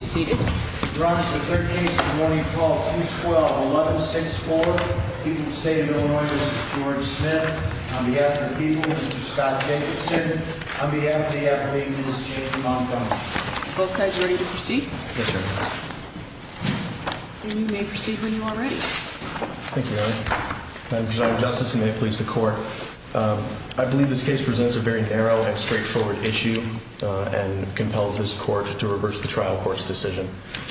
v. Scott Jacobson v. James Montgomery Both sides ready to proceed? Yes, Your Honor. You may proceed when you are ready. Thank you, Your Honor. Madam Prosecutor Justice, and may it please the Court, I believe this case presents a very narrow and straightforward issue and compels this Court to reverse the trial court's decision.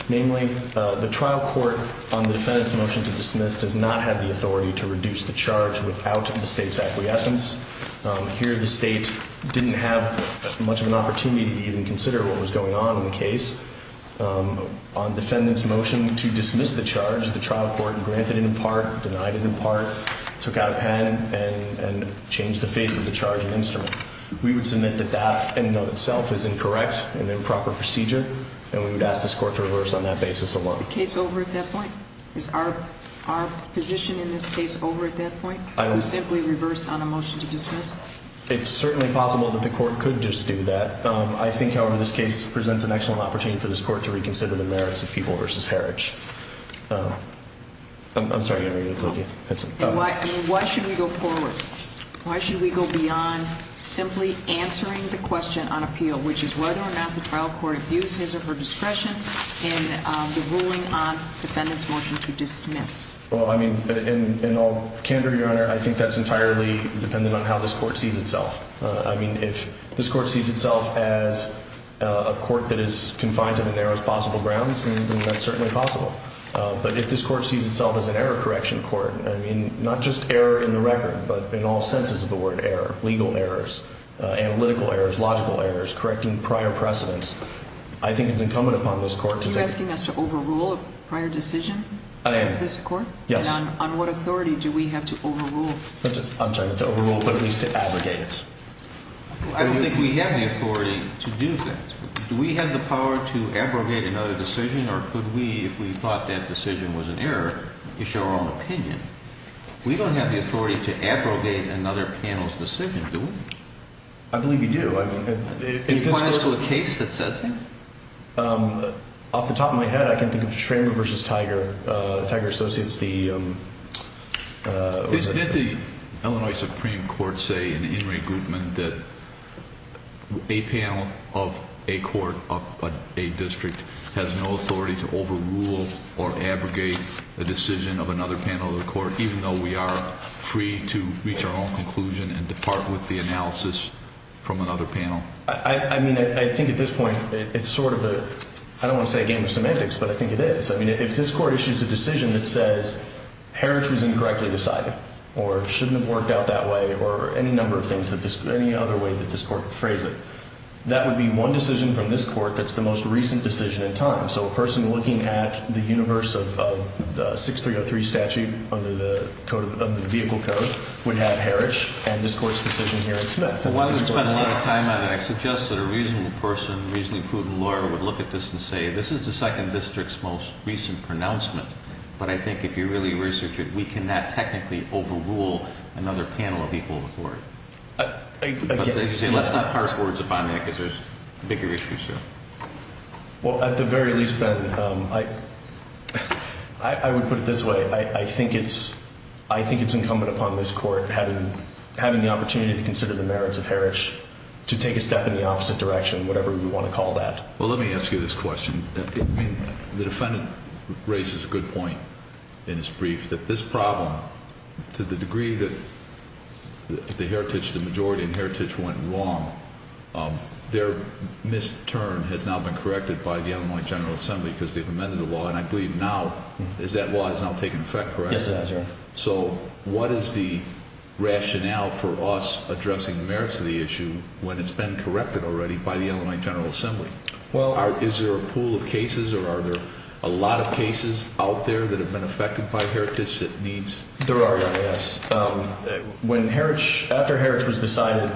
Namely, the trial court on the defendant's motion to dismiss does not have the authority to reduce the charge without the state's acquiescence. Here, the state didn't have much of an opportunity to even consider what was going on in the case. On the defendant's motion to dismiss the charge, the trial court granted it in part, denied it in part, took out a pen, and changed the face of the charge and instrument. We would submit that that in and of itself is incorrect, an improper procedure, and we would ask this Court to reverse on that basis alone. Is the case over at that point? Is our position in this case over at that point? To simply reverse on a motion to dismiss? It's certainly possible that the Court could just do that. I think, however, this case presents an excellent opportunity for this Court to reconsider the merits of people versus heritage. I'm sorry, I didn't mean to include you. Why should we go forward? Why should we go beyond simply answering the question on appeal, which is whether or not the trial court abused his or her discretion in the ruling on the defendant's motion to dismiss? Well, I mean, in all candor, Your Honor, I think that's entirely dependent on how this Court sees itself. I mean, if this Court sees itself as a court that is confined to the narrowest possible grounds, then that's certainly possible. But if this Court sees itself as an error correction court, I mean, not just error in the record, but in all senses of the word error, legal errors, analytical errors, logical errors, correcting prior precedents, I think it's incumbent upon this Court to take... Are you asking us to overrule a prior decision? I am. This Court? Yes. And on what authority do we have to overrule? I'm sorry, to overrule, but at least to abrogate. I don't think we have the authority to do that. Do we have the power to abrogate another decision, or could we, if we thought that decision was an error, issue our own opinion? We don't have the authority to abrogate another panel's decision, do we? I believe you do. It applies to a case that says that? Off the top of my head, I can think of Schramer v. Tiger. Tiger associates the... Did the Illinois Supreme Court say in the in regroupment that a panel of a court of a district has no authority to overrule or abrogate the decision of another panel of the court, even though we are free to reach our own conclusion and depart with the analysis from another panel? I mean, I think at this point it's sort of a... I don't want to say a game of semantics, but I think it is. I mean, if this Court issues a decision that says Heritage was incorrectly decided or shouldn't have worked out that way or any number of things, any other way that this Court could phrase it, that would be one decision from this Court that's the most recent decision in time. So a person looking at the universe of the 6303 statute under the vehicle code would have Heritage and this Court's decision here in Smith. While we've spent a lot of time on it, I suggest that a reasonable person, reasonably prudent lawyer would look at this and say, this is the 2nd District's most recent pronouncement, but I think if you really research it, we cannot technically overrule another panel of equal authority. Let's not parse words upon that because there's bigger issues here. Well, at the very least then, I would put it this way. I think it's incumbent upon this Court, having the opportunity to consider the merits of Heritage, to take a step in the opposite direction, whatever we want to call that. Well, let me ask you this question. I mean, the defendant raises a good point in his brief that this problem, to the degree that the majority in Heritage went wrong, their mis-turn has now been corrected by the Illinois General Assembly because they've amended the law, and I believe now that law has now taken effect, correct? Yes, it has, Your Honor. So what is the rationale for us addressing the merits of the issue when it's been corrected already by the Illinois General Assembly? Is there a pool of cases, or are there a lot of cases out there that have been affected by Heritage? There are, Your Honor, yes. After Heritage was decided,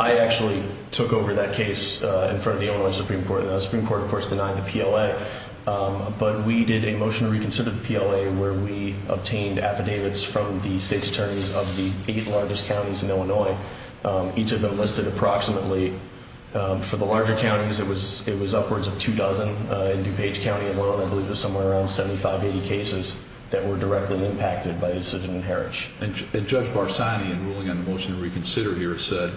I actually took over that case in front of the Illinois Supreme Court. The Supreme Court, of course, denied the PLA, but we did a motion to reconsider the PLA where we obtained affidavits from the state's attorneys of the eight largest counties in Illinois, each of them listed approximately, for the larger counties, it was upwards of two dozen in DuPage County alone. I believe it was somewhere around 75, 80 cases that were directly impacted by the decision in Heritage. And Judge Barsani, in ruling on the motion to reconsider here, said,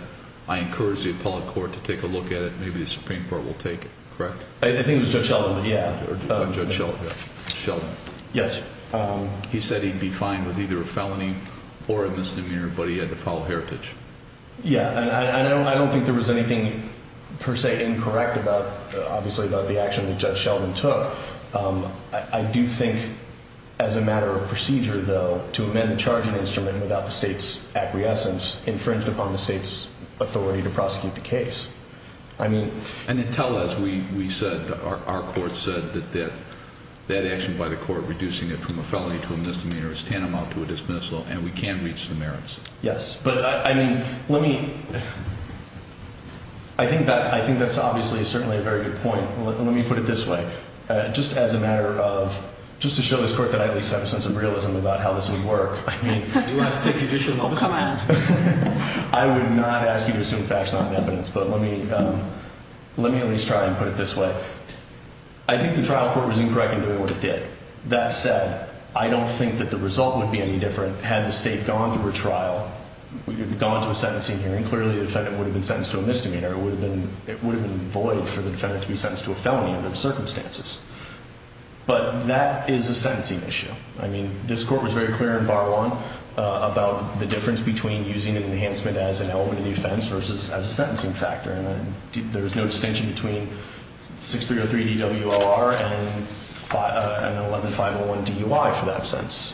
I encourage the appellate court to take a look at it, maybe the Supreme Court will take it, correct? I think it was Judge Sheldon, yeah. Judge Sheldon. Yes. He said he'd be fine with either a felony or a misdemeanor, but he had to follow Heritage. Yeah, and I don't think there was anything per se incorrect, obviously, about the action that Judge Sheldon took. I do think, as a matter of procedure, though, to amend the charging instrument without the state's acquiescence infringed upon the state's authority to prosecute the case. And then tell us, we said, our court said that that action by the court, reducing it from a felony to a misdemeanor is tantamount to a dismissal, and we can't reach the merits. Yes, but I mean, let me, I think that's obviously certainly a very good point. Let me put it this way, just as a matter of, just to show this court that I at least have a sense of realism about how this would work. I mean, do you want us to take additional? Come on. I would not ask you to assume facts, not evidence, but let me at least try and put it this way. I think the trial court was incorrect in doing what it did. That said, I don't think that the result would be any different had the state gone through a trial, gone to a sentencing hearing. Clearly, the defendant would have been sentenced to a misdemeanor. It would have been void for the defendant to be sentenced to a felony under the circumstances. But that is a sentencing issue. I mean, this court was very clear in bar one about the difference between using an enhancement as an element of the offense versus as a sentencing factor. There's no distinction between 6303 DWLR and an 11501 DUI for that sentence.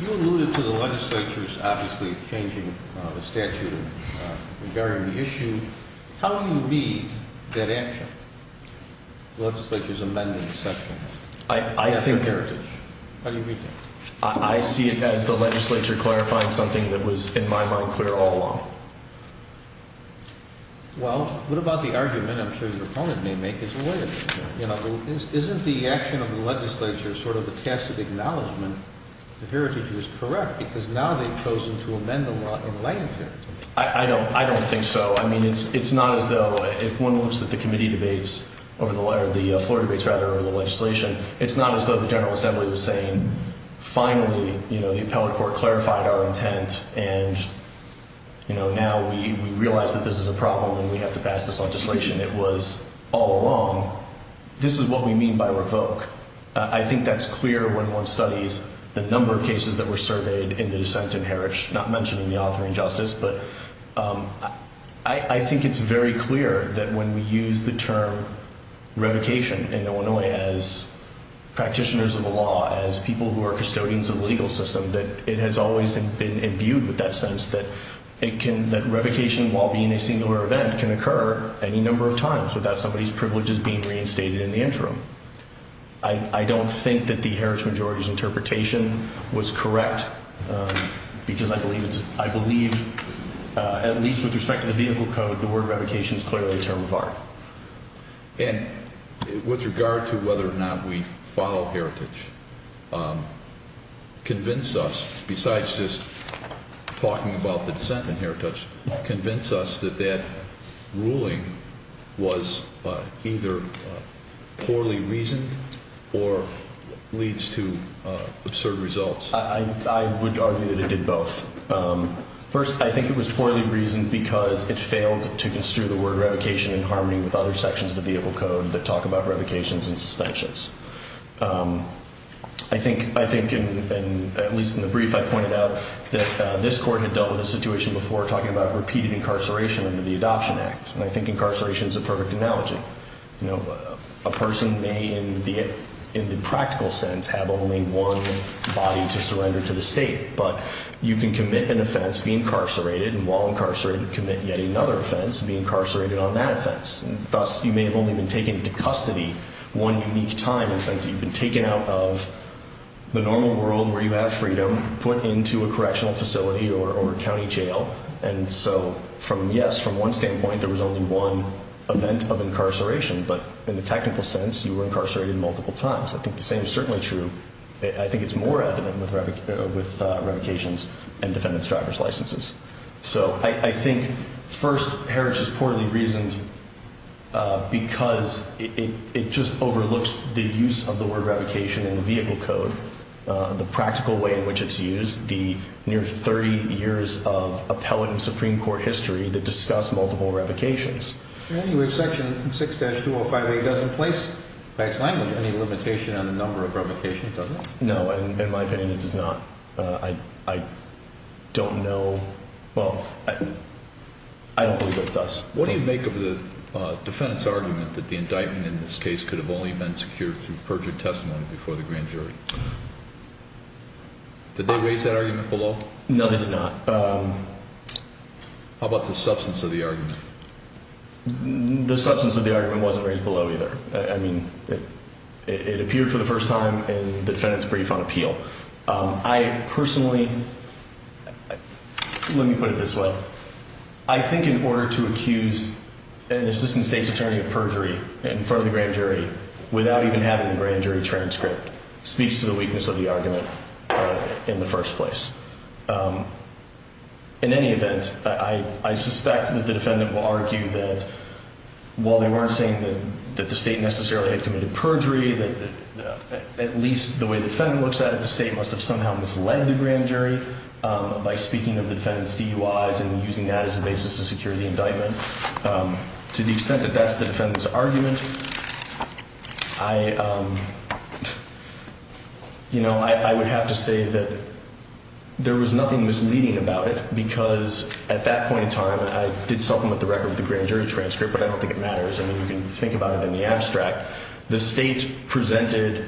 You alluded to the legislature's obviously changing the statute and regarding the issue. How do you read that action, the legislature's amendment section? How do you read that? I see it as the legislature clarifying something that was, in my mind, clear all along. Well, what about the argument, I'm sure your opponent may make, it's void. Isn't the action of the legislature sort of a tacit acknowledgment that Heritage was correct because now they've chosen to amend the law in light of Heritage? I don't think so. I mean, it's not as though if one looks at the committee debates or the floor debates, rather, over the legislation, it's not as though the General Assembly was saying, finally, the appellate court clarified our intent and now we realize that this is a problem and we have to pass this legislation. It was all along, this is what we mean by revoke. I think that's clear when one studies the number of cases that were surveyed in the dissent in Heritage, not mentioning the offering justice. I think it's very clear that when we use the term revocation in Illinois as practitioners of the law, as people who are custodians of the legal system, that it has always been imbued with that sense that revocation, while being a singular event, can occur any number of times without somebody's privileges being reinstated in the interim. I don't think that the Heritage majority's interpretation was correct because I believe, at least with respect to the vehicle code, the word revocation is clearly a term of art. And with regard to whether or not we follow Heritage, convince us, besides just talking about the dissent in Heritage, convince us that that ruling was either poorly reasoned or leads to absurd results. I would argue that it did both. First, I think it was poorly reasoned because it failed to construe the word revocation in harmony with other sections of the vehicle code that talk about revocations and suspensions. I think, at least in the brief I pointed out, that this court had dealt with a situation before talking about repeated incarceration under the Adoption Act. And I think incarceration is a perfect analogy. A person may, in the practical sense, have only one body to surrender to the state. But you can commit an offense, be incarcerated, and while incarcerated, commit yet another offense, and be incarcerated on that offense. Thus, you may have only been taken into custody one unique time in the sense that you've been taken out of the normal world where you have freedom, put into a correctional facility or a county jail. And so, yes, from one standpoint, there was only one event of incarceration. But in the technical sense, you were incarcerated multiple times. I think the same is certainly true. I think it's more evident with revocations and defendant's driver's licenses. So I think, first, Heritage is poorly reasoned because it just overlooks the use of the word revocation in the vehicle code, the practical way in which it's used, the near 30 years of appellate and Supreme Court history that discuss multiple revocations. Anyway, Section 6-205A doesn't place, by its language, any limitation on the number of revocations, does it? No, in my opinion, it does not. I don't know. Well, I don't believe it does. What do you make of the defendant's argument that the indictment in this case could have only been secured through perjured testimony before the grand jury? Did they raise that argument below? No, they did not. How about the substance of the argument? The substance of the argument wasn't raised below either. I mean, it appeared for the first time in the defendant's brief on appeal. I personally, let me put it this way. I think in order to accuse an assistant state's attorney of perjury in front of the grand jury without even having the grand jury transcript speaks to the weakness of the argument in the first place. In any event, I suspect that the defendant will argue that, while they weren't saying that the state necessarily had committed perjury, at least the way the defendant looks at it, the state must have somehow misled the grand jury by speaking of the defendant's DUIs and using that as a basis to secure the indictment. To the extent that that's the defendant's argument, I would have to say that there was nothing misleading about it because at that point in time, I did supplement the record with the grand jury transcript, but I don't think it matters. I mean, you can think about it in the abstract. The state presented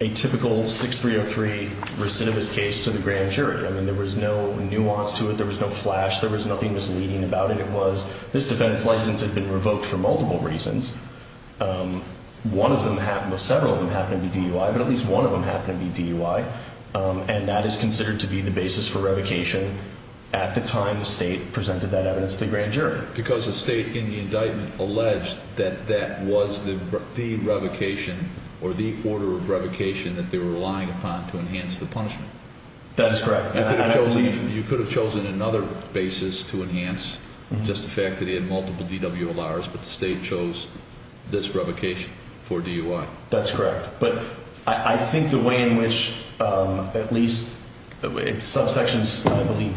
a typical 6303 recidivist case to the grand jury. I mean, there was no nuance to it. There was no flash. There was nothing misleading about it. It was this defendant's license had been revoked for multiple reasons. One of them happened, well, several of them happened to be DUI, but at least one of them happened to be DUI, and that is considered to be the basis for revocation at the time the state presented that evidence to the grand jury. Because the state in the indictment alleged that that was the revocation or the order of revocation that they were relying upon to enhance the punishment. That is correct. You could have chosen another basis to enhance just the fact that they had multiple DWLRs, but the state chose this revocation for DUI. That's correct. But I think the way in which at least subsections, I believe,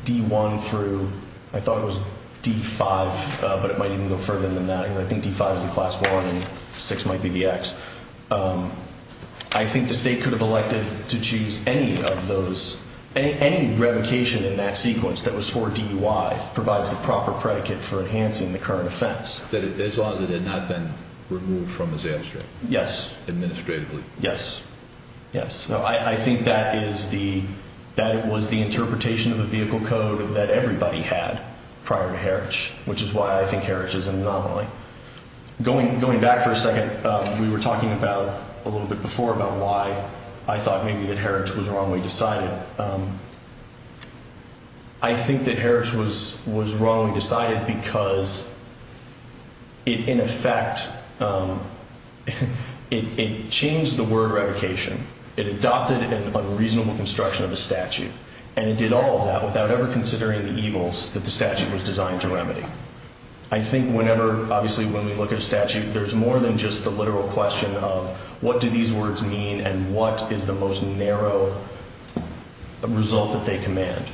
D1 through, I thought it was D5, but it might even go further than that. I think D5 is the class 1 and 6 might be the X. I think the state could have elected to choose any of those, any revocation in that sequence that was for DUI provides the proper predicate for enhancing the current offense. As long as it had not been removed from his abstract. Yes. Administratively. Yes. Yes. I think that it was the interpretation of the vehicle code that everybody had prior to Herrich, which is why I think Herrich is an anomaly. Going back for a second, we were talking about, a little bit before, about why I thought maybe that Herrich was wrongly decided. I think that Herrich was wrongly decided because it, in effect, it changed the word revocation. It adopted an unreasonable construction of a statute, and it did all of that without ever considering the evils that the statute was designed to remedy. I think whenever, obviously, when we look at a statute, there's more than just the literal question of what do these words mean and what is the most narrow result that they command.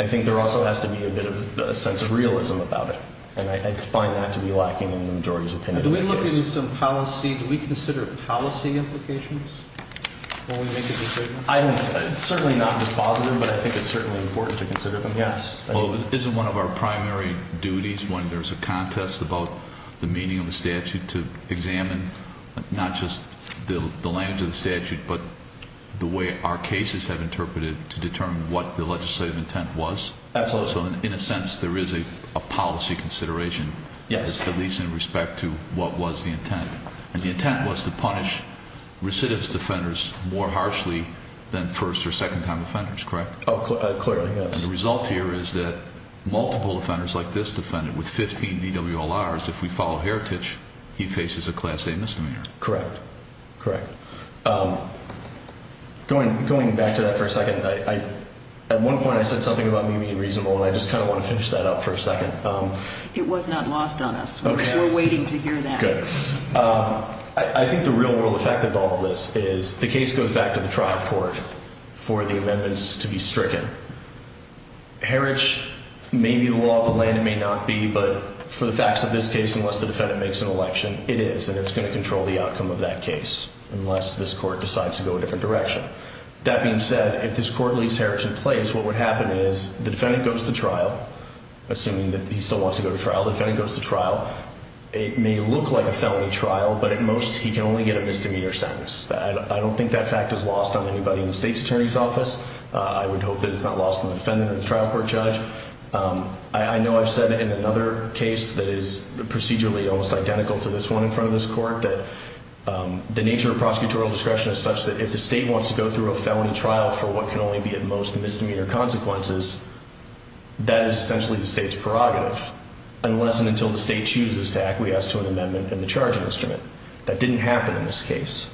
I think there also has to be a bit of a sense of realism about it, and I find that to be lacking in the majority's opinion. Do we consider policy implications when we make a decision? I don't know. It's certainly not dispositive, but I think it's certainly important to consider them, yes. Isn't one of our primary duties when there's a contest about the meaning of a statute to examine not just the language of the statute, but the way our cases have interpreted to determine what the legislative intent was? Absolutely. So in a sense, there is a policy consideration, at least in respect to what was the intent, and the intent was to punish recidivist defenders more harshly than first- or second-time offenders, correct? Oh, clearly, yes. And the result here is that multiple offenders like this defendant with 15 BWLRs, if we follow heritage, he faces a Class A misdemeanor. Correct. Correct. Going back to that for a second, at one point I said something about me being reasonable, and I just kind of want to finish that up for a second. It was not lost on us. We're waiting to hear that. Good. I think the real-world effect of all of this is the case goes back to the trial court for the amendments to be stricken. Heritage may be the law of the land, it may not be, but for the facts of this case, unless the defendant makes an election, it is, and it's going to control the outcome of that case unless this court decides to go a different direction. That being said, if this court leaves heritage in place, what would happen is the defendant goes to trial, assuming that he still wants to go to trial. The defendant goes to trial. It may look like a felony trial, but at most he can only get a misdemeanor sentence. I don't think that fact is lost on anybody in the state's attorney's office. I would hope that it's not lost on the defendant or the trial court judge. I know I've said in another case that is procedurally almost identical to this one in front of this court that the nature of prosecutorial discretion is such that if the state wants to go through a felony trial for what can only be at most misdemeanor consequences, that is essentially the state's prerogative, unless and until the state chooses to acquiesce to an amendment in the charging instrument. That didn't happen in this case.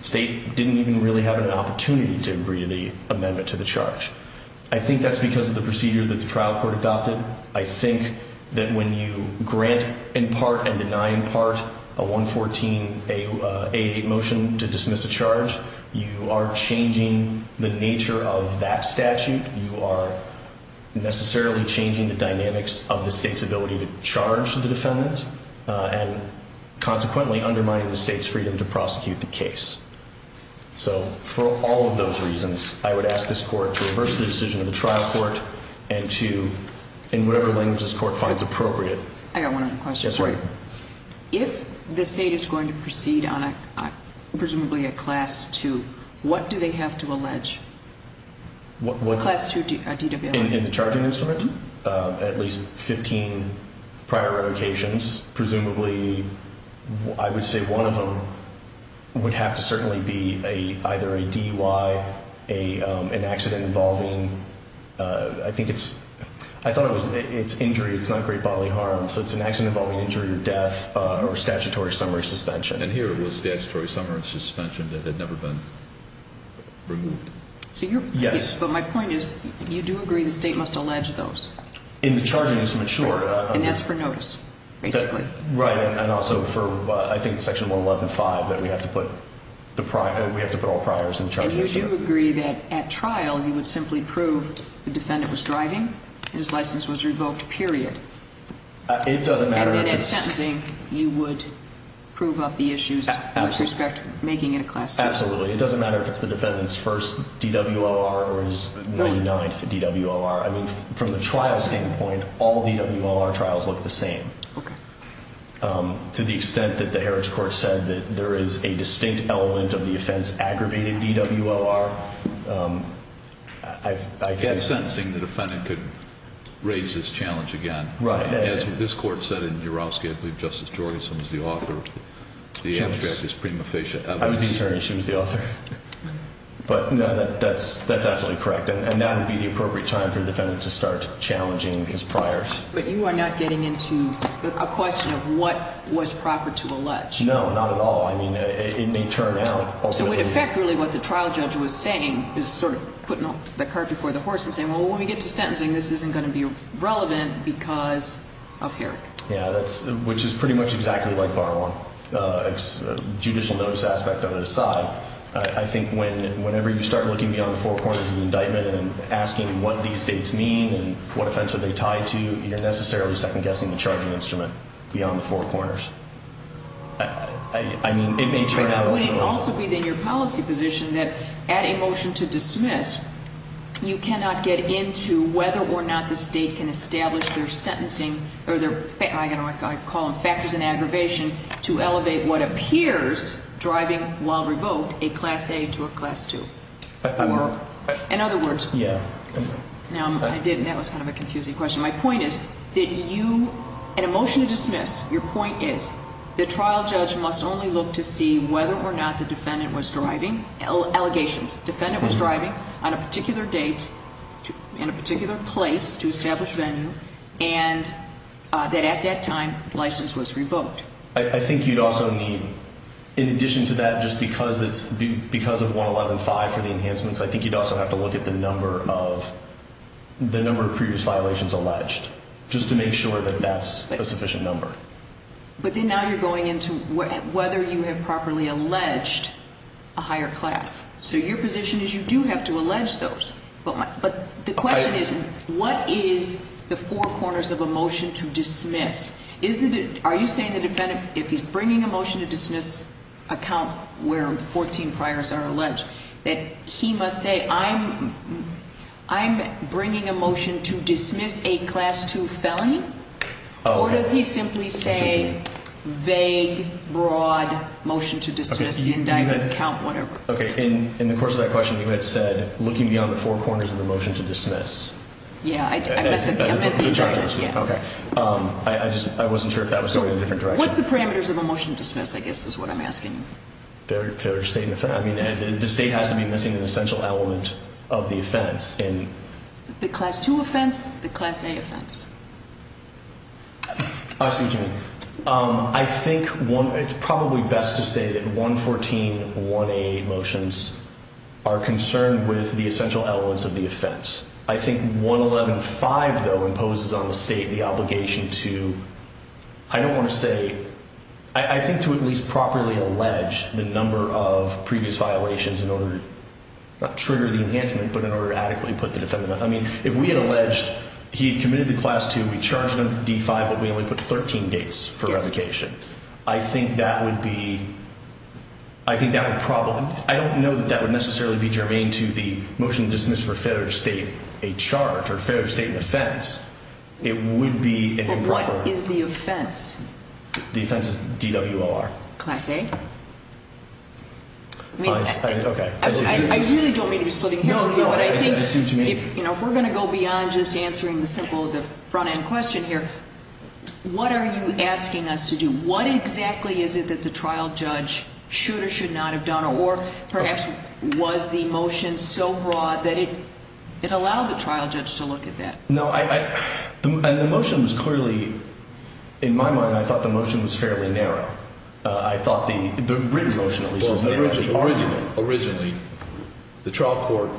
The state didn't even really have an opportunity to agree to the amendment to the charge. I think that's because of the procedure that the trial court adopted. I think that when you grant in part and deny in part a 114-88 motion to dismiss a charge, you are changing the nature of that statute. You are necessarily changing the dynamics of the state's ability to charge the defendant and consequently undermining the state's freedom to prosecute the case. So for all of those reasons, I would ask this court to reverse the decision of the trial court and to, in whatever language this court finds appropriate. I've got one other question. Yes, ma'am. If the state is going to proceed on presumably a Class II, what do they have to allege? What? Class II DWL. In the charging instrument, at least 15 prior revocations, presumably I would say one of them would have to certainly be either a DUI, an accident involving, I think it's, I thought it was, it's injury, it's not great bodily harm, so it's an accident involving injury or death or statutory summary suspension. And here it was statutory summary suspension that had never been removed. Yes. But my point is you do agree the state must allege those. In the charging instrument, sure. And that's for notice, basically. Right. And also for, I think, Section 111.5 that we have to put the prior, we have to put all priors in the charging instrument. And you do agree that at trial you would simply prove the defendant was driving and his license was revoked, period. It doesn't matter. And then at sentencing you would prove up the issues with respect to making it a Class II. Absolutely. It doesn't matter if it's the defendant's first DWOR or his 99th DWOR. I mean, from the trial standpoint, all DWOR trials look the same. Okay. To the extent that the Heritage Court said that there is a distinct element of the offense aggravated DWOR, I get that. From sentencing the defendant could raise this challenge again. Right. As this Court said in Urofsky, I believe Justice Jorgenson was the author, the abstract is prima facie. I was the attorney. She was the author. But, no, that's absolutely correct. And that would be the appropriate time for the defendant to start challenging his priors. But you are not getting into a question of what was proper to allege. No, not at all. I mean, it may turn out ultimately. So it would affect really what the trial judge was saying, is sort of putting the cart before the horse and saying, well, when we get to sentencing, this isn't going to be relevant because of Heritage. Yeah, which is pretty much exactly like Barwon. Judicial notice aspect of it aside, I think whenever you start looking beyond the four corners of the indictment and asking what these dates mean and what offense are they tied to, you're necessarily second-guessing the charging instrument beyond the four corners. I mean, it may turn out ultimately. Would it also be, then, your policy position that at a motion to dismiss, you cannot get into whether or not the State can establish their sentencing or their factors in aggravation to elevate what appears, driving while revoked, a Class A to a Class II? In other words, that was kind of a confusing question. My point is that you, at a motion to dismiss, your point is the trial judge must only look to see whether or not the defendant was driving allegations. Defendant was driving on a particular date and a particular place to establish venue, and that at that time, license was revoked. I think you'd also need, in addition to that, just because of 111.5 for the enhancements, I think you'd also have to look at the number of previous violations alleged, just to make sure that that's a sufficient number. But then now you're going into whether you have properly alleged a higher class. So your position is you do have to allege those. But the question is, what is the four corners of a motion to dismiss? Are you saying the defendant, if he's bringing a motion to dismiss a count where 14 priors are alleged, that he must say, I'm bringing a motion to dismiss a Class II felony? Or does he simply say, vague, broad motion to dismiss the indictment, count, whatever? Okay, in the course of that question, you had said, looking beyond the four corners of the motion to dismiss. Yeah. As a judge. Yeah. Okay. I just wasn't sure if that was going in a different direction. What's the parameters of a motion to dismiss, I guess, is what I'm asking. The state has to be missing an essential element of the offense. The Class II offense, the Class A offense. Excuse me. I think it's probably best to say that 114-1A motions are concerned with the essential elements of the offense. I think 111-5, though, imposes on the state the obligation to, I don't want to say, I think to at least properly allege the number of previous violations in order to not trigger the enhancement, but in order to adequately put the defendant on. I mean, if we had alleged he had committed the Class II, we charged him with D-5, but we only put 13 dates for revocation. Yes. I think that would be, I think that would probably, I don't know that that would necessarily be germane to the motion to dismiss for failure to state a charge or failure to state an offense. It would be an improper. What is the offense? The offense is DWOR. Class A? Okay. I really don't mean to be splitting hairs with you, but I think if we're going to go beyond just answering the simple front-end question here, what are you asking us to do? What exactly is it that the trial judge should or should not have done, or perhaps was the motion so broad that it allowed the trial judge to look at that? No, the motion was clearly, in my mind, I thought the motion was fairly narrow. I thought the written motion at least was narrow. Originally, the trial court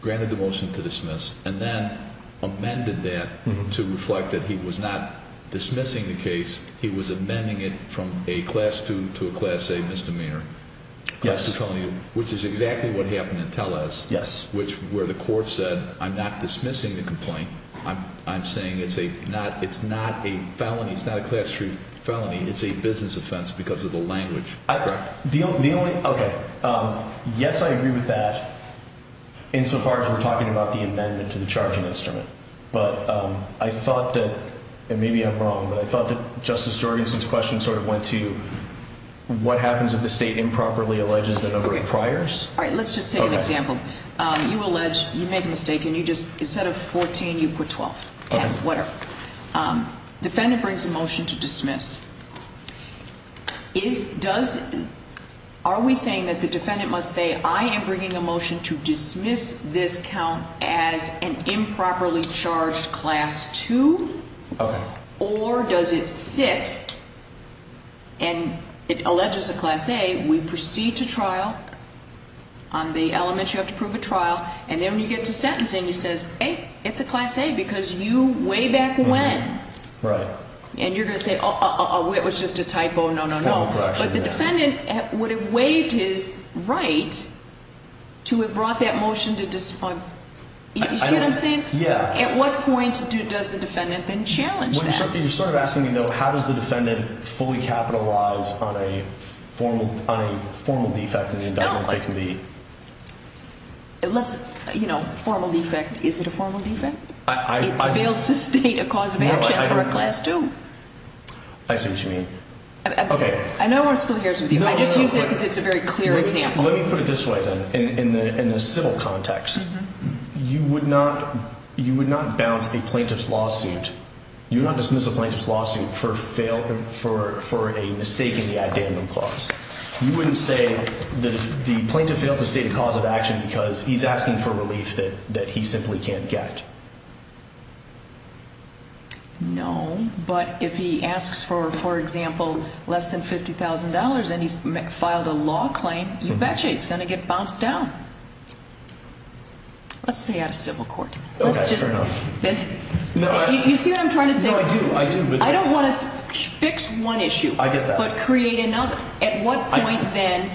granted the motion to dismiss and then amended that to reflect that he was not dismissing the case. He was amending it from a Class II to a Class A misdemeanor. Yes. Which is exactly what happened in Tellez. Yes. Where the court said, I'm not dismissing the complaint. I'm saying it's not a felony. It's not a class-truth felony. It's a business offense because of the language. Correct. Okay. Yes, I agree with that insofar as we're talking about the amendment to the charging instrument. But I thought that, and maybe I'm wrong, but I thought that Justice Jorgensen's question sort of went to what happens if the state improperly alleges the number of priors? All right. Let's just take an example. You allege, you make a mistake, and you just, instead of 14, you put 12, 10, whatever. Defendant brings a motion to dismiss. Are we saying that the defendant must say, I am bringing a motion to dismiss this count as an improperly charged Class II? Okay. Or does it sit and it alleges a Class A, we proceed to trial on the element you have to prove at trial, and then when you get to sentencing, you say, hey, it's a Class A because you way back when. Right. And you're going to say, oh, it was just a typo. No, no, no. But the defendant would have waived his right to have brought that motion to dismiss. You see what I'm saying? Yeah. At what point does the defendant then challenge that? You're sort of asking me, though, how does the defendant fully capitalize on a formal defect in the indictment that can be? Let's, you know, formal defect. Is it a formal defect? It fails to state a cause of action for a Class II. I see what you mean. Okay. I don't want to split hairs with you. I just use it because it's a very clear example. Let me put it this way, then, in the civil context. You would not bounce a plaintiff's lawsuit. You would not dismiss a plaintiff's lawsuit for a mistake in the addendum clause. You wouldn't say that the plaintiff failed to state a cause of action because he's asking for relief that he simply can't get. No, but if he asks for, for example, less than $50,000 and he's filed a law claim, you betcha it's going to get bounced down. Let's stay out of civil court. Okay, fair enough. You see what I'm trying to say? No, I do, I do. I don't want to fix one issue. I get that. But create another. At what point, then,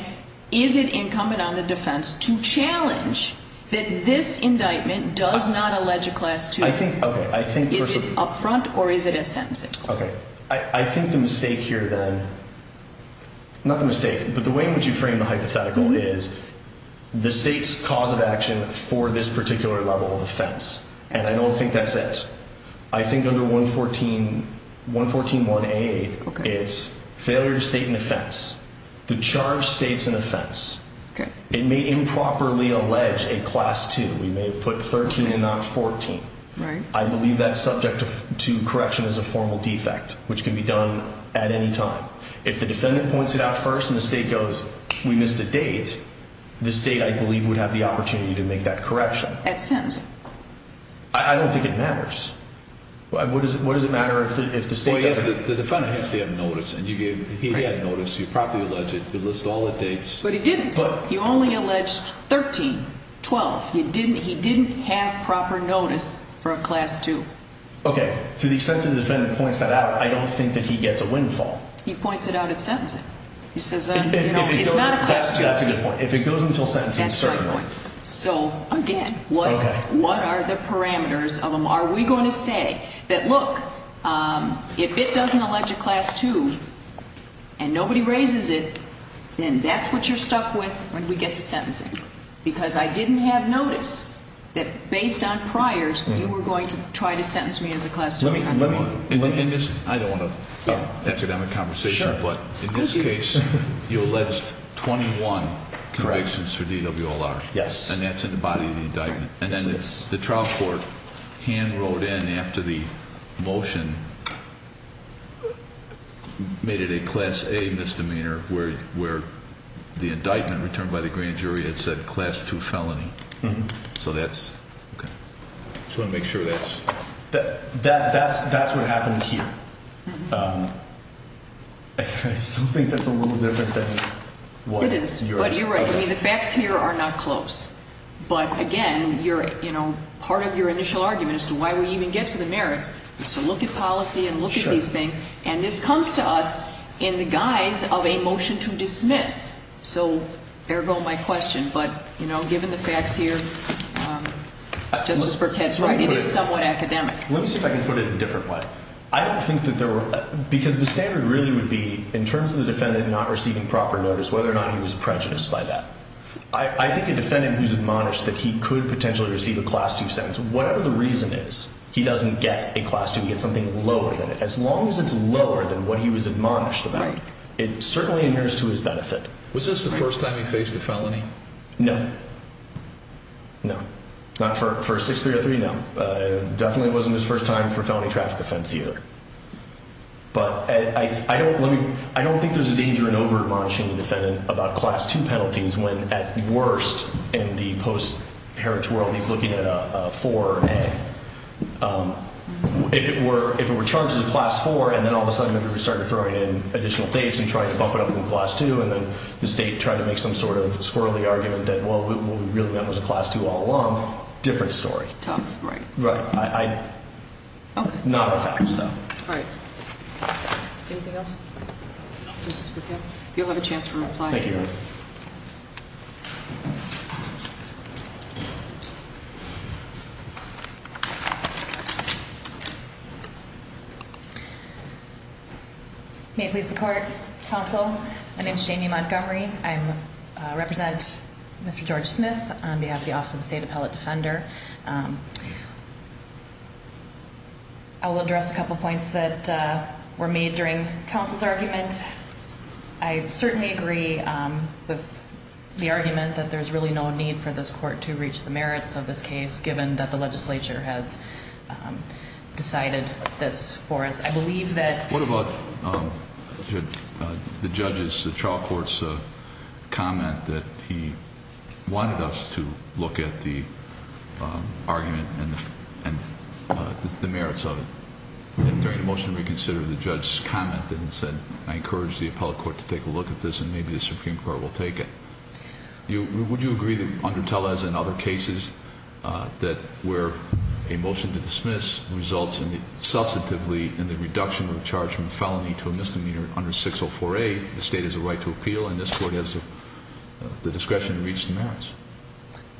is it incumbent on the defense to challenge that this indictment does not allege a Class II? I think, okay. Is it up front or is it a sentencing? Okay. I think the mistake here, then, not the mistake, but the way in which you frame the hypothetical is the state's cause of action for this particular level of offense. And I don't think that's it. I think under 114.1a, it's failure to state an offense, to charge states an offense. It may improperly allege a Class II. We may have put 13 and not 14. Right. I believe that's subject to correction as a formal defect, which can be done at any time. If the defendant points it out first and the state goes, we missed a date, the state, I believe, would have the opportunity to make that correction. That's sentencing. I don't think it matters. What does it matter if the state doesn't? Well, yes, the defendant has to have notice, and he had notice. You properly alleged it. You list all the dates. But he didn't. You only alleged 13, 12. He didn't have proper notice for a Class II. Okay. To the extent that the defendant points that out, I don't think that he gets a windfall. He points it out at sentencing. He says, you know, it's not a Class II. That's a good point. If it goes until sentencing, certainly. That's my point. So, again, what are the parameters of them? Are we going to say that, look, if it doesn't allege a Class II and nobody raises it, then that's what you're stuck with when we get to sentencing? Because I didn't have notice that, based on priors, you were going to try to sentence me as a Class II defendant. I don't want an academic conversation, but in this case, you alleged 21 convictions for DWLR. Yes. And that's in the body of the indictment. And then the trial court hand wrote in after the motion made it a Class A misdemeanor where the indictment returned by the grand jury, it said Class II felony. So that's, okay. I just want to make sure that's. That's what happened here. I still think that's a little different than what is. It is. But you're right. I mean, the facts here are not close. But, again, you're, you know, part of your initial argument as to why we even get to the merits is to look at policy and look at these things. Sure. And this comes to us in the guise of a motion to dismiss. So, ergo my question. But, you know, given the facts here, Justice Burkett's right, it is somewhat academic. Let me see if I can put it in a different way. I don't think that there were, because the standard really would be, in terms of the defendant not receiving proper notice, whether or not he was prejudiced by that. I think a defendant who's admonished that he could potentially receive a Class II sentence, whatever the reason is, he doesn't get a Class II. He gets something lower than it. As long as it's lower than what he was admonished about, it certainly adheres to his benefit. Was this the first time he faced a felony? No. No. Not for 6303? No. Definitely wasn't his first time for a felony traffic offense, either. But I don't think there's a danger in over-admonishing the defendant about Class II penalties when, at worst, in the post-heritage world, he's looking at a 4A. If it were charged as a Class IV, and then all of a sudden everybody started throwing in additional dates and trying to bump it up from a Class II, and then the state tried to make some sort of squirrely argument that, well, what we really meant was a Class II all along, different story. Tough, right. Right. Okay. Not allowed, so. All right. Anything else? No. Okay. You'll have a chance to reply. Thank you. May it please the Court. Counsel, my name is Jamie Montgomery. I represent Mr. George Smith on behalf of the Office of the State Appellate Defender. I will address a couple of points that were made during counsel's argument. I certainly agree with the argument that there's really no need for this Court to reach the merits of this case, given that the legislature has decided this for us. I believe that— The judge's, the trial court's comment that he wanted us to look at the argument and the merits of it. During the motion to reconsider, the judge's comment then said, I encourage the appellate court to take a look at this, and maybe the Supreme Court will take it. Would you agree that, under Tellez and other cases, that where a motion to dismiss results substantively in the reduction of the charge from a felony to a misdemeanor under 604A, the state has a right to appeal, and this Court has the discretion to reach the merits?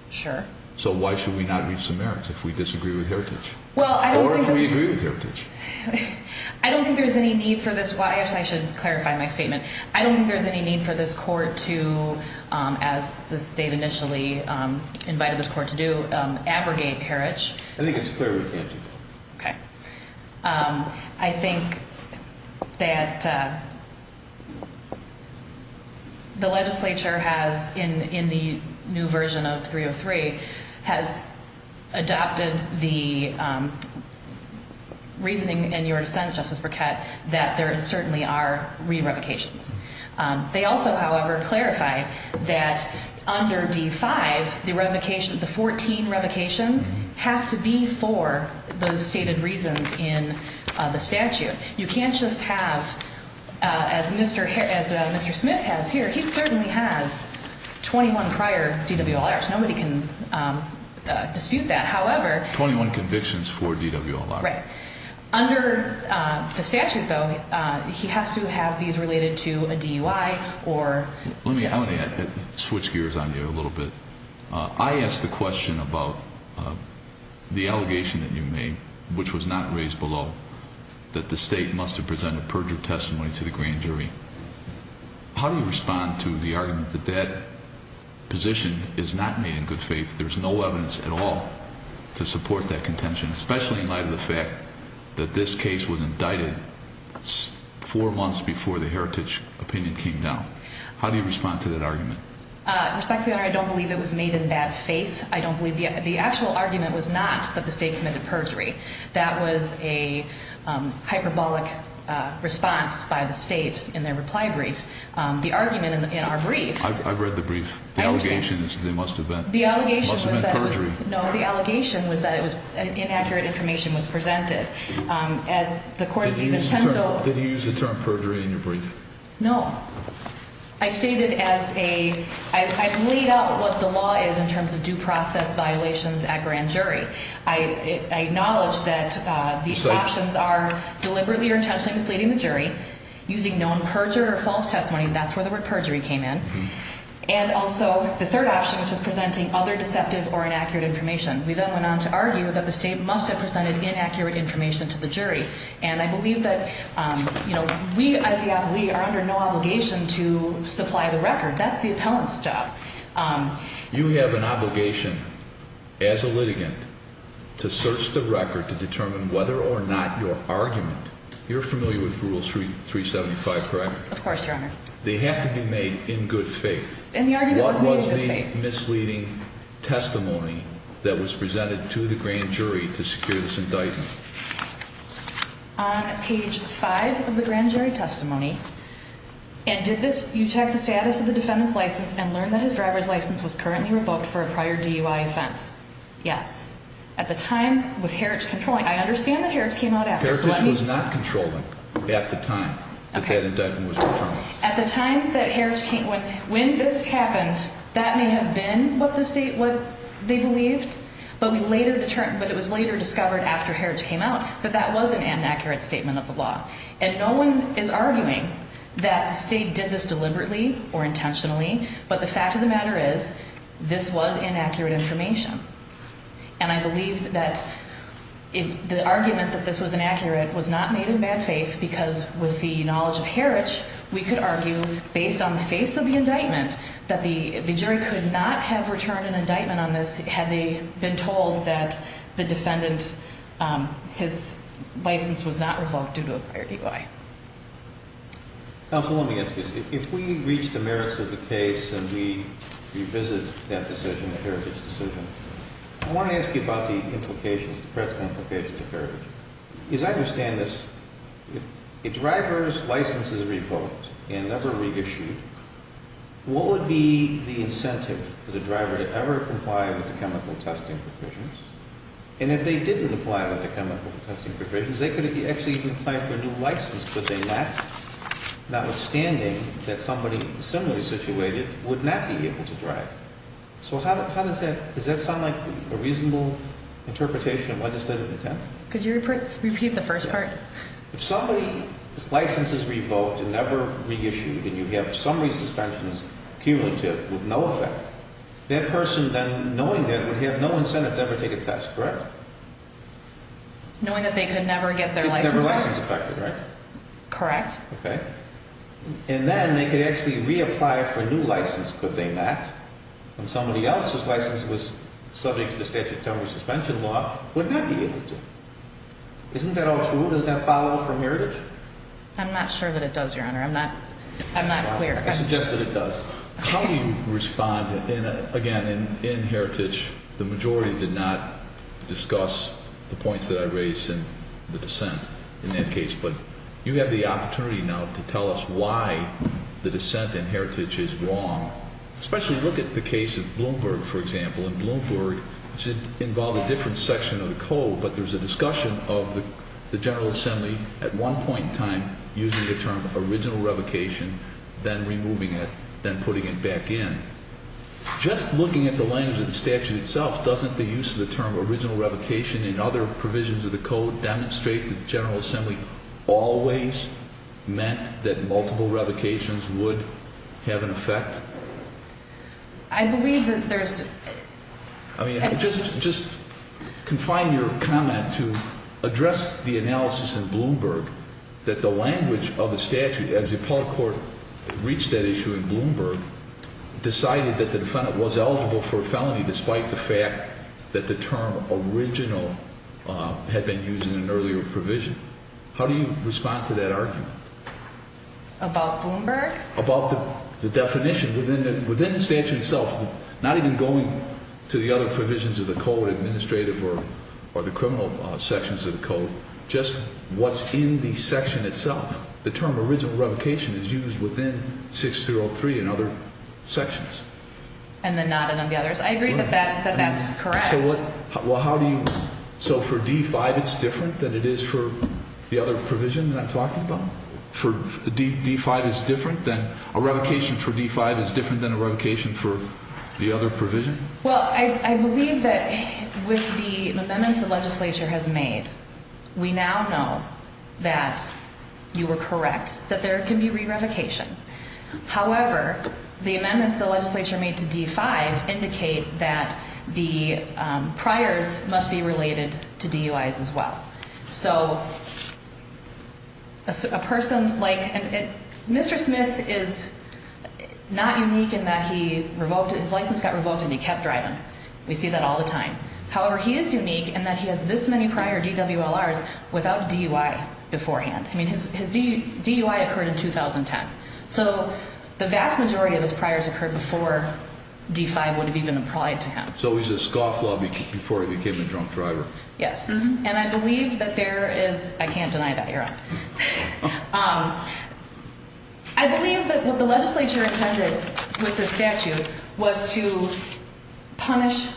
Sure. So why should we not reach the merits if we disagree with Heritage? Well, I don't think that— Or if we agree with Heritage? I don't think there's any need for this. Well, I guess I should clarify my statement. I don't think there's any need for this Court to, as the state initially invited this Court to do, abrogate Heritage. I think it's clear we can't do that. Okay. I think that the legislature has, in the new version of 303, has adopted the reasoning in your dissent, Justice Burkett, that there certainly are re-revocations. They also, however, clarified that under D-5, the revocation—the 14 revocations have to be for those stated reasons in the statute. You can't just have, as Mr. Smith has here, he certainly has 21 prior DWLRs. Nobody can dispute that. However— Twenty-one convictions for DWLRs. Right. Under the statute, though, he has to have these related to a DUI or— Let me—I want to switch gears on you a little bit. I asked the question about the allegation that you made, which was not raised below, that the state must have presented perjured testimony to the grand jury. How do you respond to the argument that that position is not made in good faith? There's no evidence at all to support that contention, especially in light of the fact that this case was indicted four months before the heritage opinion came down. How do you respond to that argument? Respectfully, Your Honor, I don't believe it was made in bad faith. I don't believe—the actual argument was not that the state committed perjury. That was a hyperbolic response by the state in their reply brief. The argument in our brief— I've read the brief. I understand. The allegation is that it must have been— The allegation was that it was— Must have been perjury. No, the allegation was that it was—inaccurate information was presented. As the court— Did you use the term—did you use the term perjury in your brief? No. I stated as a—I've laid out what the law is in terms of due process violations at grand jury. I acknowledge that these options are deliberately or intentionally misleading the jury. Using known perjure or false testimony, that's where the word perjury came in. And also, the third option, which is presenting other deceptive or inaccurate information. We then went on to argue that the state must have presented inaccurate information to the jury. And I believe that, you know, we as the appellee are under no obligation to supply the record. That's the appellant's job. You have an obligation as a litigant to search the record to determine whether or not your argument— You're familiar with Rule 375, correct? Of course, Your Honor. They have to be made in good faith. And the argument was made in good faith. What was the misleading testimony that was presented to the grand jury to secure this indictment? On page 5 of the grand jury testimony, and did this— You checked the status of the defendant's license and learned that his driver's license was currently revoked for a prior DUI offense. Yes. At the time, with Heritage controlling. I understand that Heritage came out after, so let me— Heritage was not controlling at the time that that indictment was returned. At the time that Heritage came—when this happened, that may have been what the state—what they believed, but we later determined—but it was later discovered after Heritage came out that that was an inaccurate statement of the law. And no one is arguing that the state did this deliberately or intentionally, but the fact of the matter is this was inaccurate information. And I believe that the argument that this was inaccurate was not made in bad faith because with the knowledge of Heritage, we could argue, based on the face of the indictment, that the jury could not have returned an indictment on this had they been told that the defendant—his license was not revoked due to a prior DUI. Counsel, let me ask you this. If we reach the merits of the case and we revisit that decision, the Heritage decision, I want to ask you about the implications, the present implications of Heritage. Because I understand this. If a driver's license is revoked and never reissued, what would be the incentive for the driver to ever comply with the chemical testing provisions? And if they didn't comply with the chemical testing provisions, they could actually even apply for a new license, but they would not, notwithstanding that somebody similarly situated would not be able to drive. So how does that—does that sound like a reasonable interpretation of legislative intent? Could you repeat the first part? If somebody's license is revoked and never reissued and you have summary suspensions cumulative with no effect, that person then, knowing that, would have no incentive to ever take a test, correct? Knowing that they could never get their license back? Never license affected, right? Correct. Okay. And then they could actually reapply for a new license, could they not? And somebody else's license was subject to the statute of temporary suspension law would not be able to. Isn't that all true? Does that follow from Heritage? I'm not sure that it does, Your Honor. I'm not clear. I suggest that it does. How do you respond? Again, in Heritage, the majority did not discuss the points that I raised in the dissent in that case, but you have the opportunity now to tell us why the dissent in Heritage is wrong. Especially look at the case of Bloomberg, for example, and Bloomberg involved a different section of the code, but there's a discussion of the General Assembly at one point in time using the term original revocation, then removing it, then putting it back in. Just looking at the language of the statute itself, doesn't the use of the term original revocation in other provisions of the code demonstrate that the General Assembly always meant that multiple revocations would have an effect? I believe that there's... I mean, just confine your comment to address the analysis in Bloomberg that the language of the statute, as the appellate court reached that issue in Bloomberg, decided that the defendant was eligible for a felony despite the fact that the term original had been used in an earlier provision. How do you respond to that argument? About Bloomberg? About the definition within the statute itself, not even going to the other provisions of the code, administrative or the criminal sections of the code, just what's in the section itself. The term original revocation is used within 6303 and other sections. And then not in the others? I agree that that's correct. Well, how do you... So for D-5 it's different than it is for the other provision that I'm talking about? D-5 is different than... a revocation for D-5 is different than a revocation for the other provision? Well, I believe that with the amendments the legislature has made, we now know that you were correct, that there can be re-revocation. However, the amendments the legislature made to D-5 indicate that the priors must be related to DUIs as well. So a person like... Mr. Smith is not unique in that he revoked... his license got revoked and he kept driving. We see that all the time. However, he is unique in that he has this many prior DWLRs without DUI beforehand. I mean, his DUI occurred in 2010. So the vast majority of his priors occurred before D-5 would have even applied to him. So he's a scofflaw before he became a drunk driver? Yes. And I believe that there is... I can't deny that, Your Honor. I believe that what the legislature intended with the statute was to punish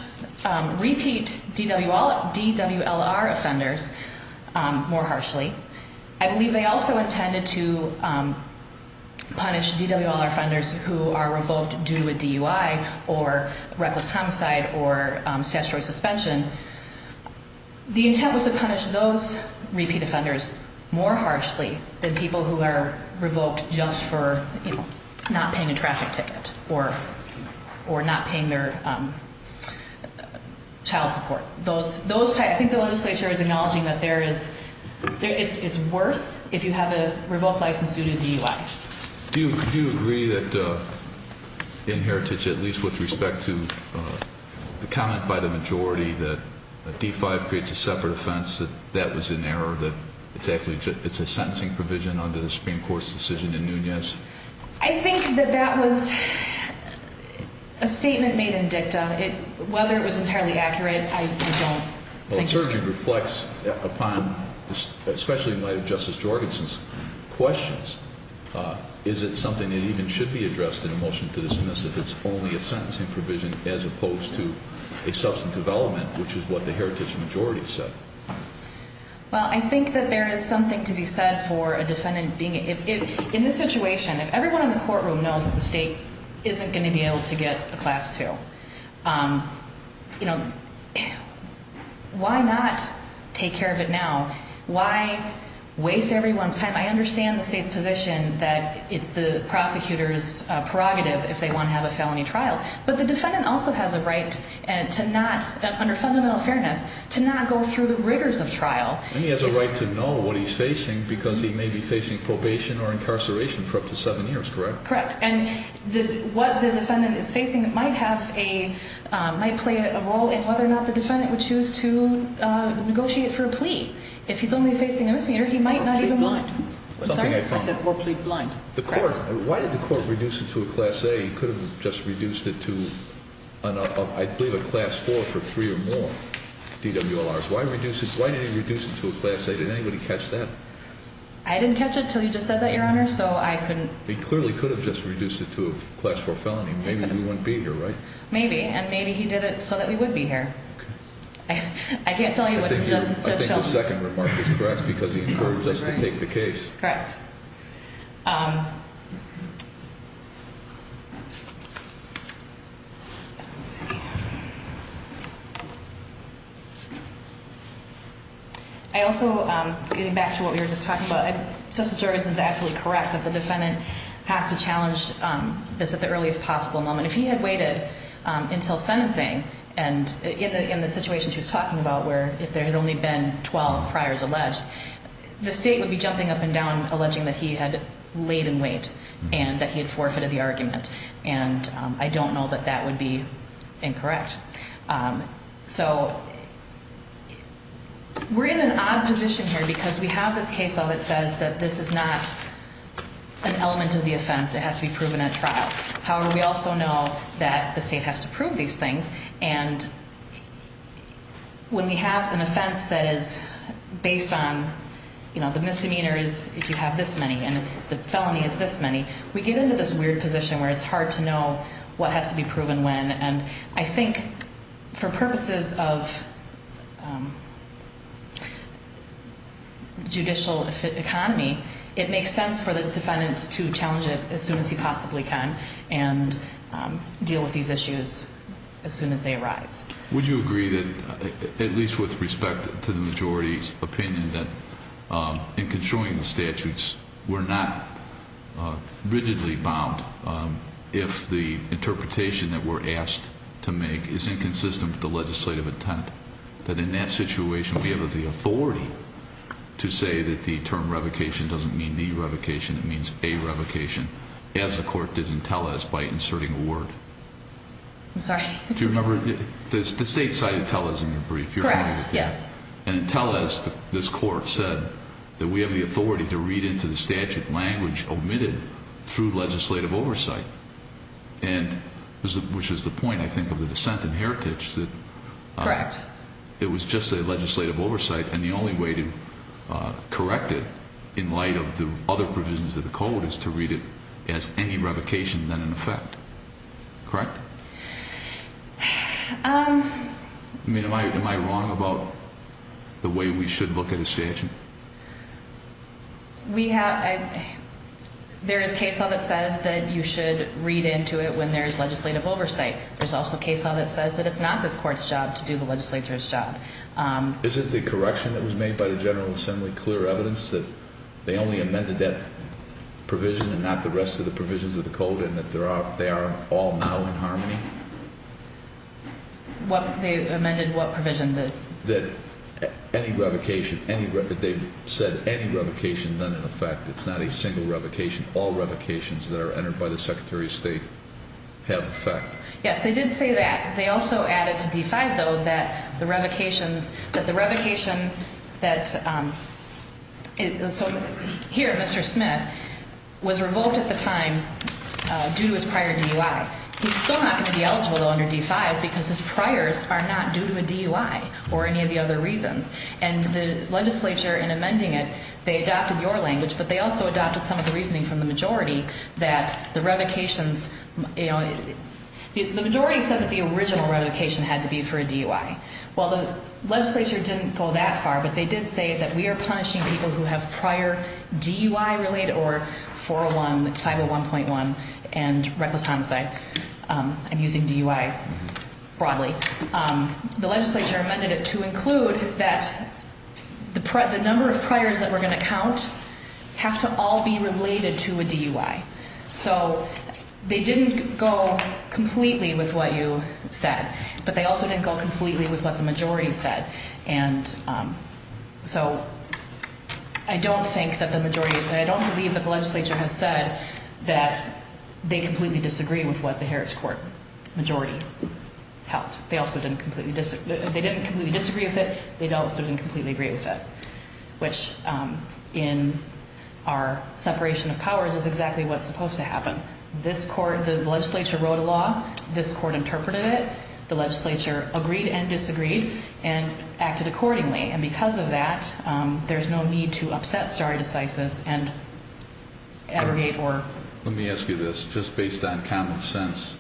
repeat DWLR offenders more harshly. I believe they also intended to punish DWLR offenders who are revoked due to a DUI or reckless homicide or statutory suspension. The intent was to punish those repeat offenders more harshly than people who are revoked just for not paying a traffic ticket or not paying their child support. I think the legislature is acknowledging that it's worse if you have a revoked license due to DUI. Do you agree that in Heritage, at least with respect to the comment by the majority that D-5 creates a separate offense, that that was in error? That it's a sentencing provision under the Supreme Court's decision in Nunez? I think that that was a statement made in dicta. Whether it was entirely accurate, I don't think it's true. And it reflects upon, especially in light of Justice Jorgenson's questions, is it something that even should be addressed in a motion to dismiss if it's only a sentencing provision as opposed to a substantive element, which is what the Heritage majority said? Well, I think that there is something to be said for a defendant being... In this situation, if everyone in the courtroom knows that the state isn't going to be able to get a Class 2, why not take care of it now? Why waste everyone's time? I understand the state's position that it's the prosecutor's prerogative if they want to have a felony trial. But the defendant also has a right to not, under fundamental fairness, to not go through the rigors of trial. And he has a right to know what he's facing because he may be facing probation or incarceration for up to seven years, correct? Correct. And what the defendant is facing might play a role in whether or not the defendant would choose to negotiate for a plea. If he's only facing a misdemeanor, he might not even want... Or plead blind. I said, or plead blind. Why did the court reduce it to a Class A? He could have just reduced it to, I believe, a Class 4 for three or more DWLRs. Why did they reduce it to a Class A? Did anybody catch that? I didn't catch it until you just said that, Your Honor, so I couldn't... He clearly could have just reduced it to a Class 4 felony. Maybe we wouldn't be here, right? Maybe. And maybe he did it so that we would be here. I can't tell you what's in Judge Sheldon's... I think the second remark is correct because he encouraged us to take the case. Correct. I also, getting back to what we were just talking about, Justice Jorgenson is absolutely correct that the defendant has to challenge this at the earliest possible moment. If he had waited until sentencing, and in the situation she was talking about where if there had only been 12 priors alleged, the state would be jumping up and down alleging that he had laid in wait and that he had forfeited the argument. And I don't know that that would be incorrect. So we're in an odd position here because we have this case law that says that this is not an element of the offense. It has to be proven at trial. However, we also know that the state has to prove these things. And when we have an offense that is based on, you know, the misdemeanor is if you have this many and the felony is this many, we get into this weird position where it's hard to know what has to be proven when. And I think for purposes of judicial economy, it makes sense for the defendant to challenge it as soon as he possibly can and deal with these issues as soon as they arise. Would you agree that, at least with respect to the majority's opinion, that in construing the statutes, we're not rigidly bound if the interpretation that we're asked to make is inconsistent with the legislative intent? That in that situation, we have the authority to say that the term revocation doesn't mean the revocation, it means a revocation as the court did in Tellez by inserting a word? I'm sorry? Do you remember the state cited Tellez in the brief? Correct, yes. And in Tellez, this court said that we have the authority to read into the statute language omitted through legislative oversight, which is the point, I think, of the dissent in heritage that it was just a legislative oversight and the only way to correct it in light of the other provisions of the code is to read it as any revocation than an effect. Correct? I mean, am I wrong about the way we should look at a statute? There is case law that says that you should read into it when there is legislative oversight. There's also case law that says that it's not this court's job to do the legislature's job. Isn't the correction that was made by the General Assembly clear evidence that they only amended that provision and not the rest of the provisions of the code and that they are all now in harmony? They amended what provision? That any revocation, that they've said any revocation than an effect. It's not a single revocation. All revocations that are entered by the Secretary of State have effect. Yes, they did say that. They also added to D-5, though, that the revocation that, here, Mr. Smith was revoked at the time due to his prior DUI. He's still not going to be eligible, though, under D-5 because his priors are not due to a DUI or any of the other reasons. And the legislature, in amending it, they adopted your language, but they also adopted some of the reasoning from the majority that the revocations, you know, the majority said that the original revocation had to be for a DUI. Well, the legislature didn't go that far, but they did say that we are punishing people who have prior DUI-related or 401, 501.1, and reckless homicide. I'm using DUI broadly. The legislature amended it to include that the number of priors that we're going to count have to all be related to a DUI. So they didn't go completely with what you said, but they also didn't go completely with what the majority said. And so I don't think that the majority, I don't believe that the legislature has said that they completely disagree with what the Heritage Court majority held. They also didn't completely disagree with it. They also didn't completely agree with it, which, in our separation of powers, is exactly what's supposed to happen. This court, the legislature wrote a law. This court interpreted it. The legislature agreed and disagreed and acted accordingly. And because of that, there's no need to upset stare decisis and aggregate or... Let me ask you this. Just based on common sense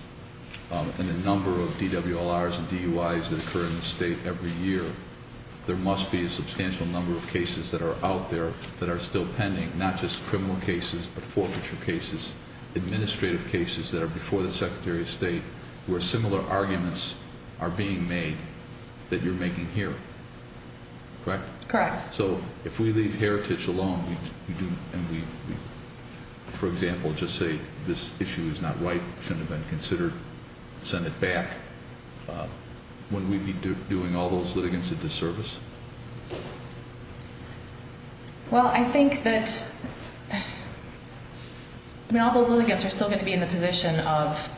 and the number of DWLRs and DUIs that occur in the state every year, there must be a substantial number of cases that are out there that are still pending, not just criminal cases but forfeiture cases, administrative cases that are before the Secretary of State where similar arguments are being made that you're making here, correct? Correct. So if we leave Heritage alone and we, for example, just say this issue is not right, shouldn't have been considered, send it back, wouldn't we be doing all those litigants a disservice? Well, I think that... I mean, all those litigants are still going to be in the position of,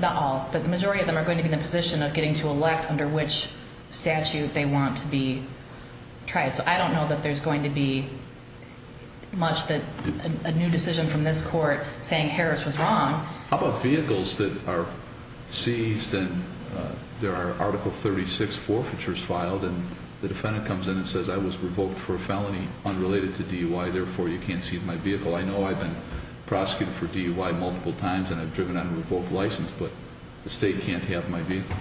not all, but the majority of them are going to be in the position of getting to elect under which statute they want to be tried. So I don't know that there's going to be much that a new decision from this court saying Heritage was wrong. How about vehicles that are seized and there are Article 36 forfeitures filed and the defendant comes in and says, I was revoked for a felony unrelated to DUI, therefore you can't see my vehicle. I know I've been prosecuted for DUI multiple times and I've driven on a revoked license, but the state can't have my vehicle.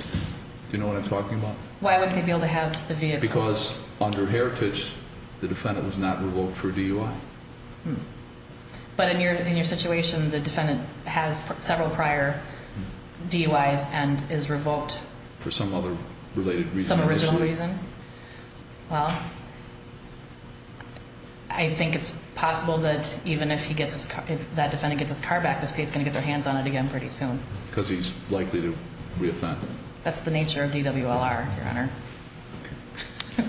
Do you know what I'm talking about? Why wouldn't they be able to have the vehicle? Because under Heritage, the defendant was not revoked for DUI. But in your situation, the defendant has several prior DUIs and is revoked. For some other related reason. Some original reason. Well, I think it's possible that even if that defendant gets his car back, the state's going to get their hands on it again pretty soon. Because he's likely to reoffend. That's the nature of DWLR, Your Honor.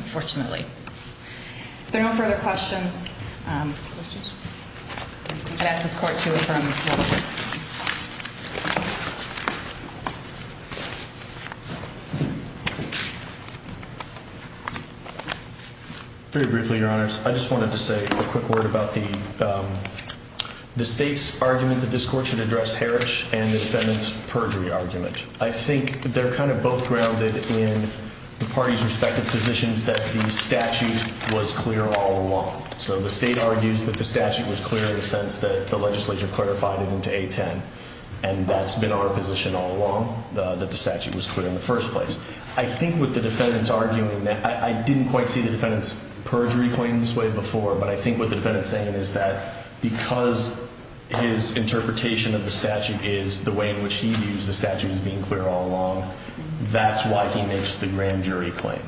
Fortunately. If there are no further questions. Very briefly, Your Honors. I just wanted to say a quick word about the state's argument that this court should address Heritage and the defendant's perjury argument. I think they're kind of both grounded in the parties' respective positions that the statute was clear all along. So the state argues that the statute was clear in the sense that the legislature clarified it into A10. And that's been our position all along, that the statute was clear in the first place. I think with the defendant's arguing that, I didn't quite see the defendant's perjury claim this way before. But I think what the defendant's saying is that because his interpretation of the statute is the way in which he views the statute as being clear all along, that's why he makes the grand jury claim.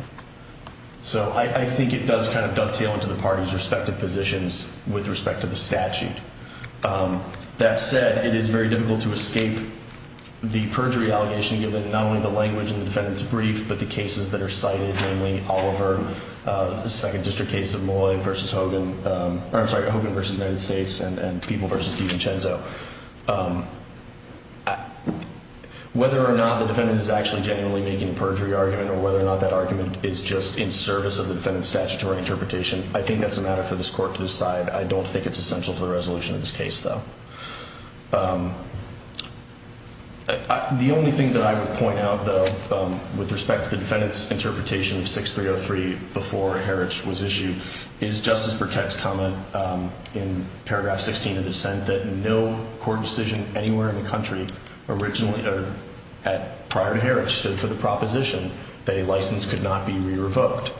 So I think it does kind of dovetail into the parties' respective positions with respect to the statute. That said, it is very difficult to escape the perjury allegation given not only the language in the defendant's brief, but the cases that are cited. Namely, Oliver, the Second District case of Molloy v. Hogan. I'm sorry, Hogan v. United States and People v. DiVincenzo. Whether or not the defendant is actually genuinely making a perjury argument or whether or not that argument is just in service of the defendant's statutory interpretation, I think that's a matter for this court to decide. I don't think it's essential to the resolution of this case, though. The only thing that I would point out, though, with respect to the defendant's interpretation of 6303 before Heritage was issued, is Justice Burkett's comment in paragraph 16 of the dissent that no court decision anywhere in the country prior to Heritage stood for the proposition that a license could not be re-revoked.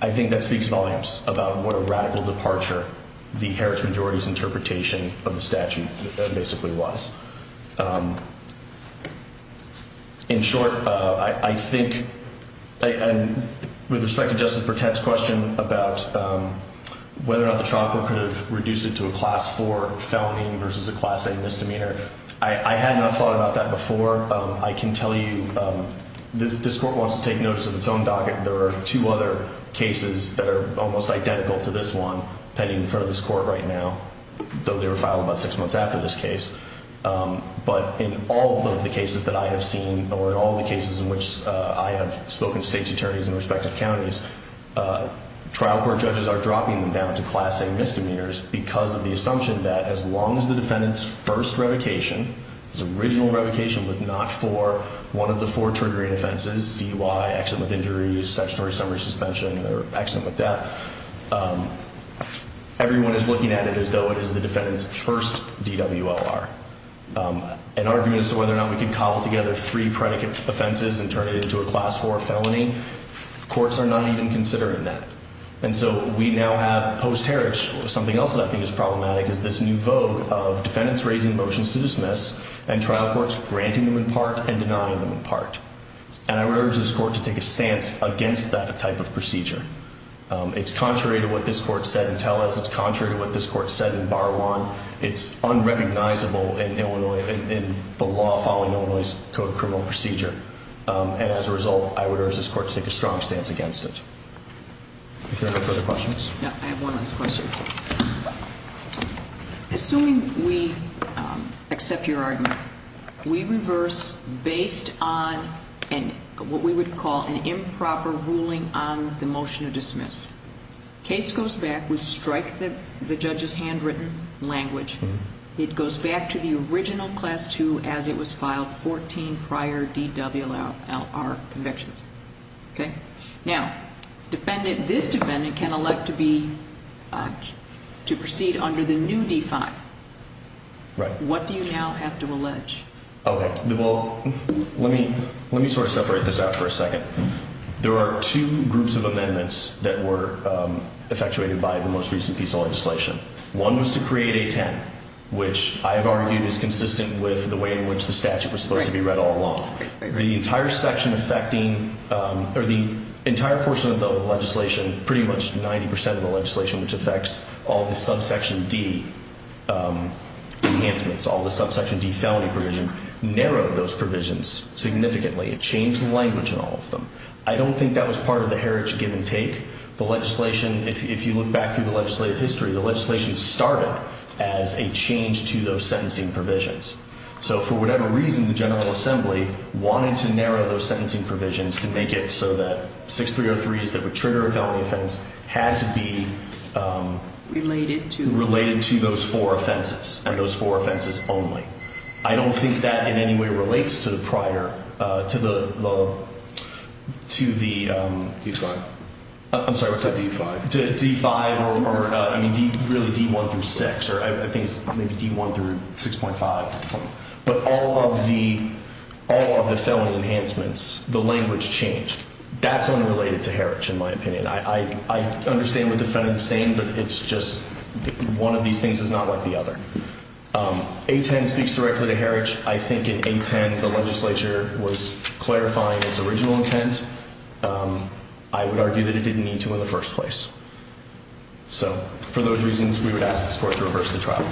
I think that speaks volumes about what a radical departure the Heritage majority's interpretation of the statute basically was. In short, I think, with respect to Justice Burkett's question about whether or not the trial court could have reduced it to a Class IV felony versus a Class A misdemeanor, I had not thought about that before. I can tell you this court wants to take notice of its own docket. There are two other cases that are almost identical to this one pending in front of this court right now, though they were filed about six months after this case. But in all of the cases that I have seen, or in all the cases in which I have spoken to state's attorneys in respective counties, trial court judges are dropping them down to Class A misdemeanors because of the assumption that as long as the defendant's first revocation, his original revocation was not for one of the four triggering offenses, DUI, accident with injuries, statutory summary suspension, or accident with death, everyone is looking at it as though it is the defendant's first DWLR. An argument as to whether or not we can cobble together three predicate offenses and turn it into a Class IV felony, courts are not even considering that. And so we now have, post-Heritage, something else that I think is problematic is this new vogue of defendants raising motions to dismiss and trial courts granting them in part and denying them in part. And I would urge this court to take a stance against that type of procedure. It's contrary to what this court said in Tellez. It's contrary to what this court said in Bar One. It's unrecognizable in the law following Illinois' Code of Criminal Procedure. And as a result, I would urge this court to take a strong stance against it. If there are no further questions. I have one last question. Assuming we accept your argument, we reverse based on what we would call an improper ruling on the motion to dismiss. Case goes back. We strike the judge's handwritten language. It goes back to the original Class II as it was filed 14 prior DWLR convictions. Now, this defendant can elect to proceed under the new D-5. What do you now have to allege? Let me sort of separate this out for a second. There are two groups of amendments that were effectuated by the most recent piece of legislation. One was to create a 10, which I have argued is consistent with the way in which the statute was supposed to be read all along. The entire section affecting, or the entire portion of the legislation, pretty much 90% of the legislation, which affects all the subsection D enhancements, all the subsection D felony provisions, narrowed those provisions significantly. It changed the language in all of them. I don't think that was part of the heritage give and take. The legislation, if you look back through the legislative history, the legislation started as a change to those sentencing provisions. So for whatever reason, the General Assembly wanted to narrow those sentencing provisions to make it so that 6303s that would trigger a felony offense had to be related to those four offenses, and those four offenses only. I don't think that in any way relates to the prior, to the... D-5. I'm sorry, what's that? D-5. To D-5, or really D-1 through 6, or I think it's maybe D-1 through 6.5, but all of the felony enhancements, the language changed. That's unrelated to heritage, in my opinion. I understand what the defendant is saying, but it's just one of these things is not like the other. A-10 speaks directly to heritage. I think in A-10, the legislature was clarifying its original intent. I would argue that it didn't need to in the first place. So for those reasons, we would ask the court to reverse the trial court.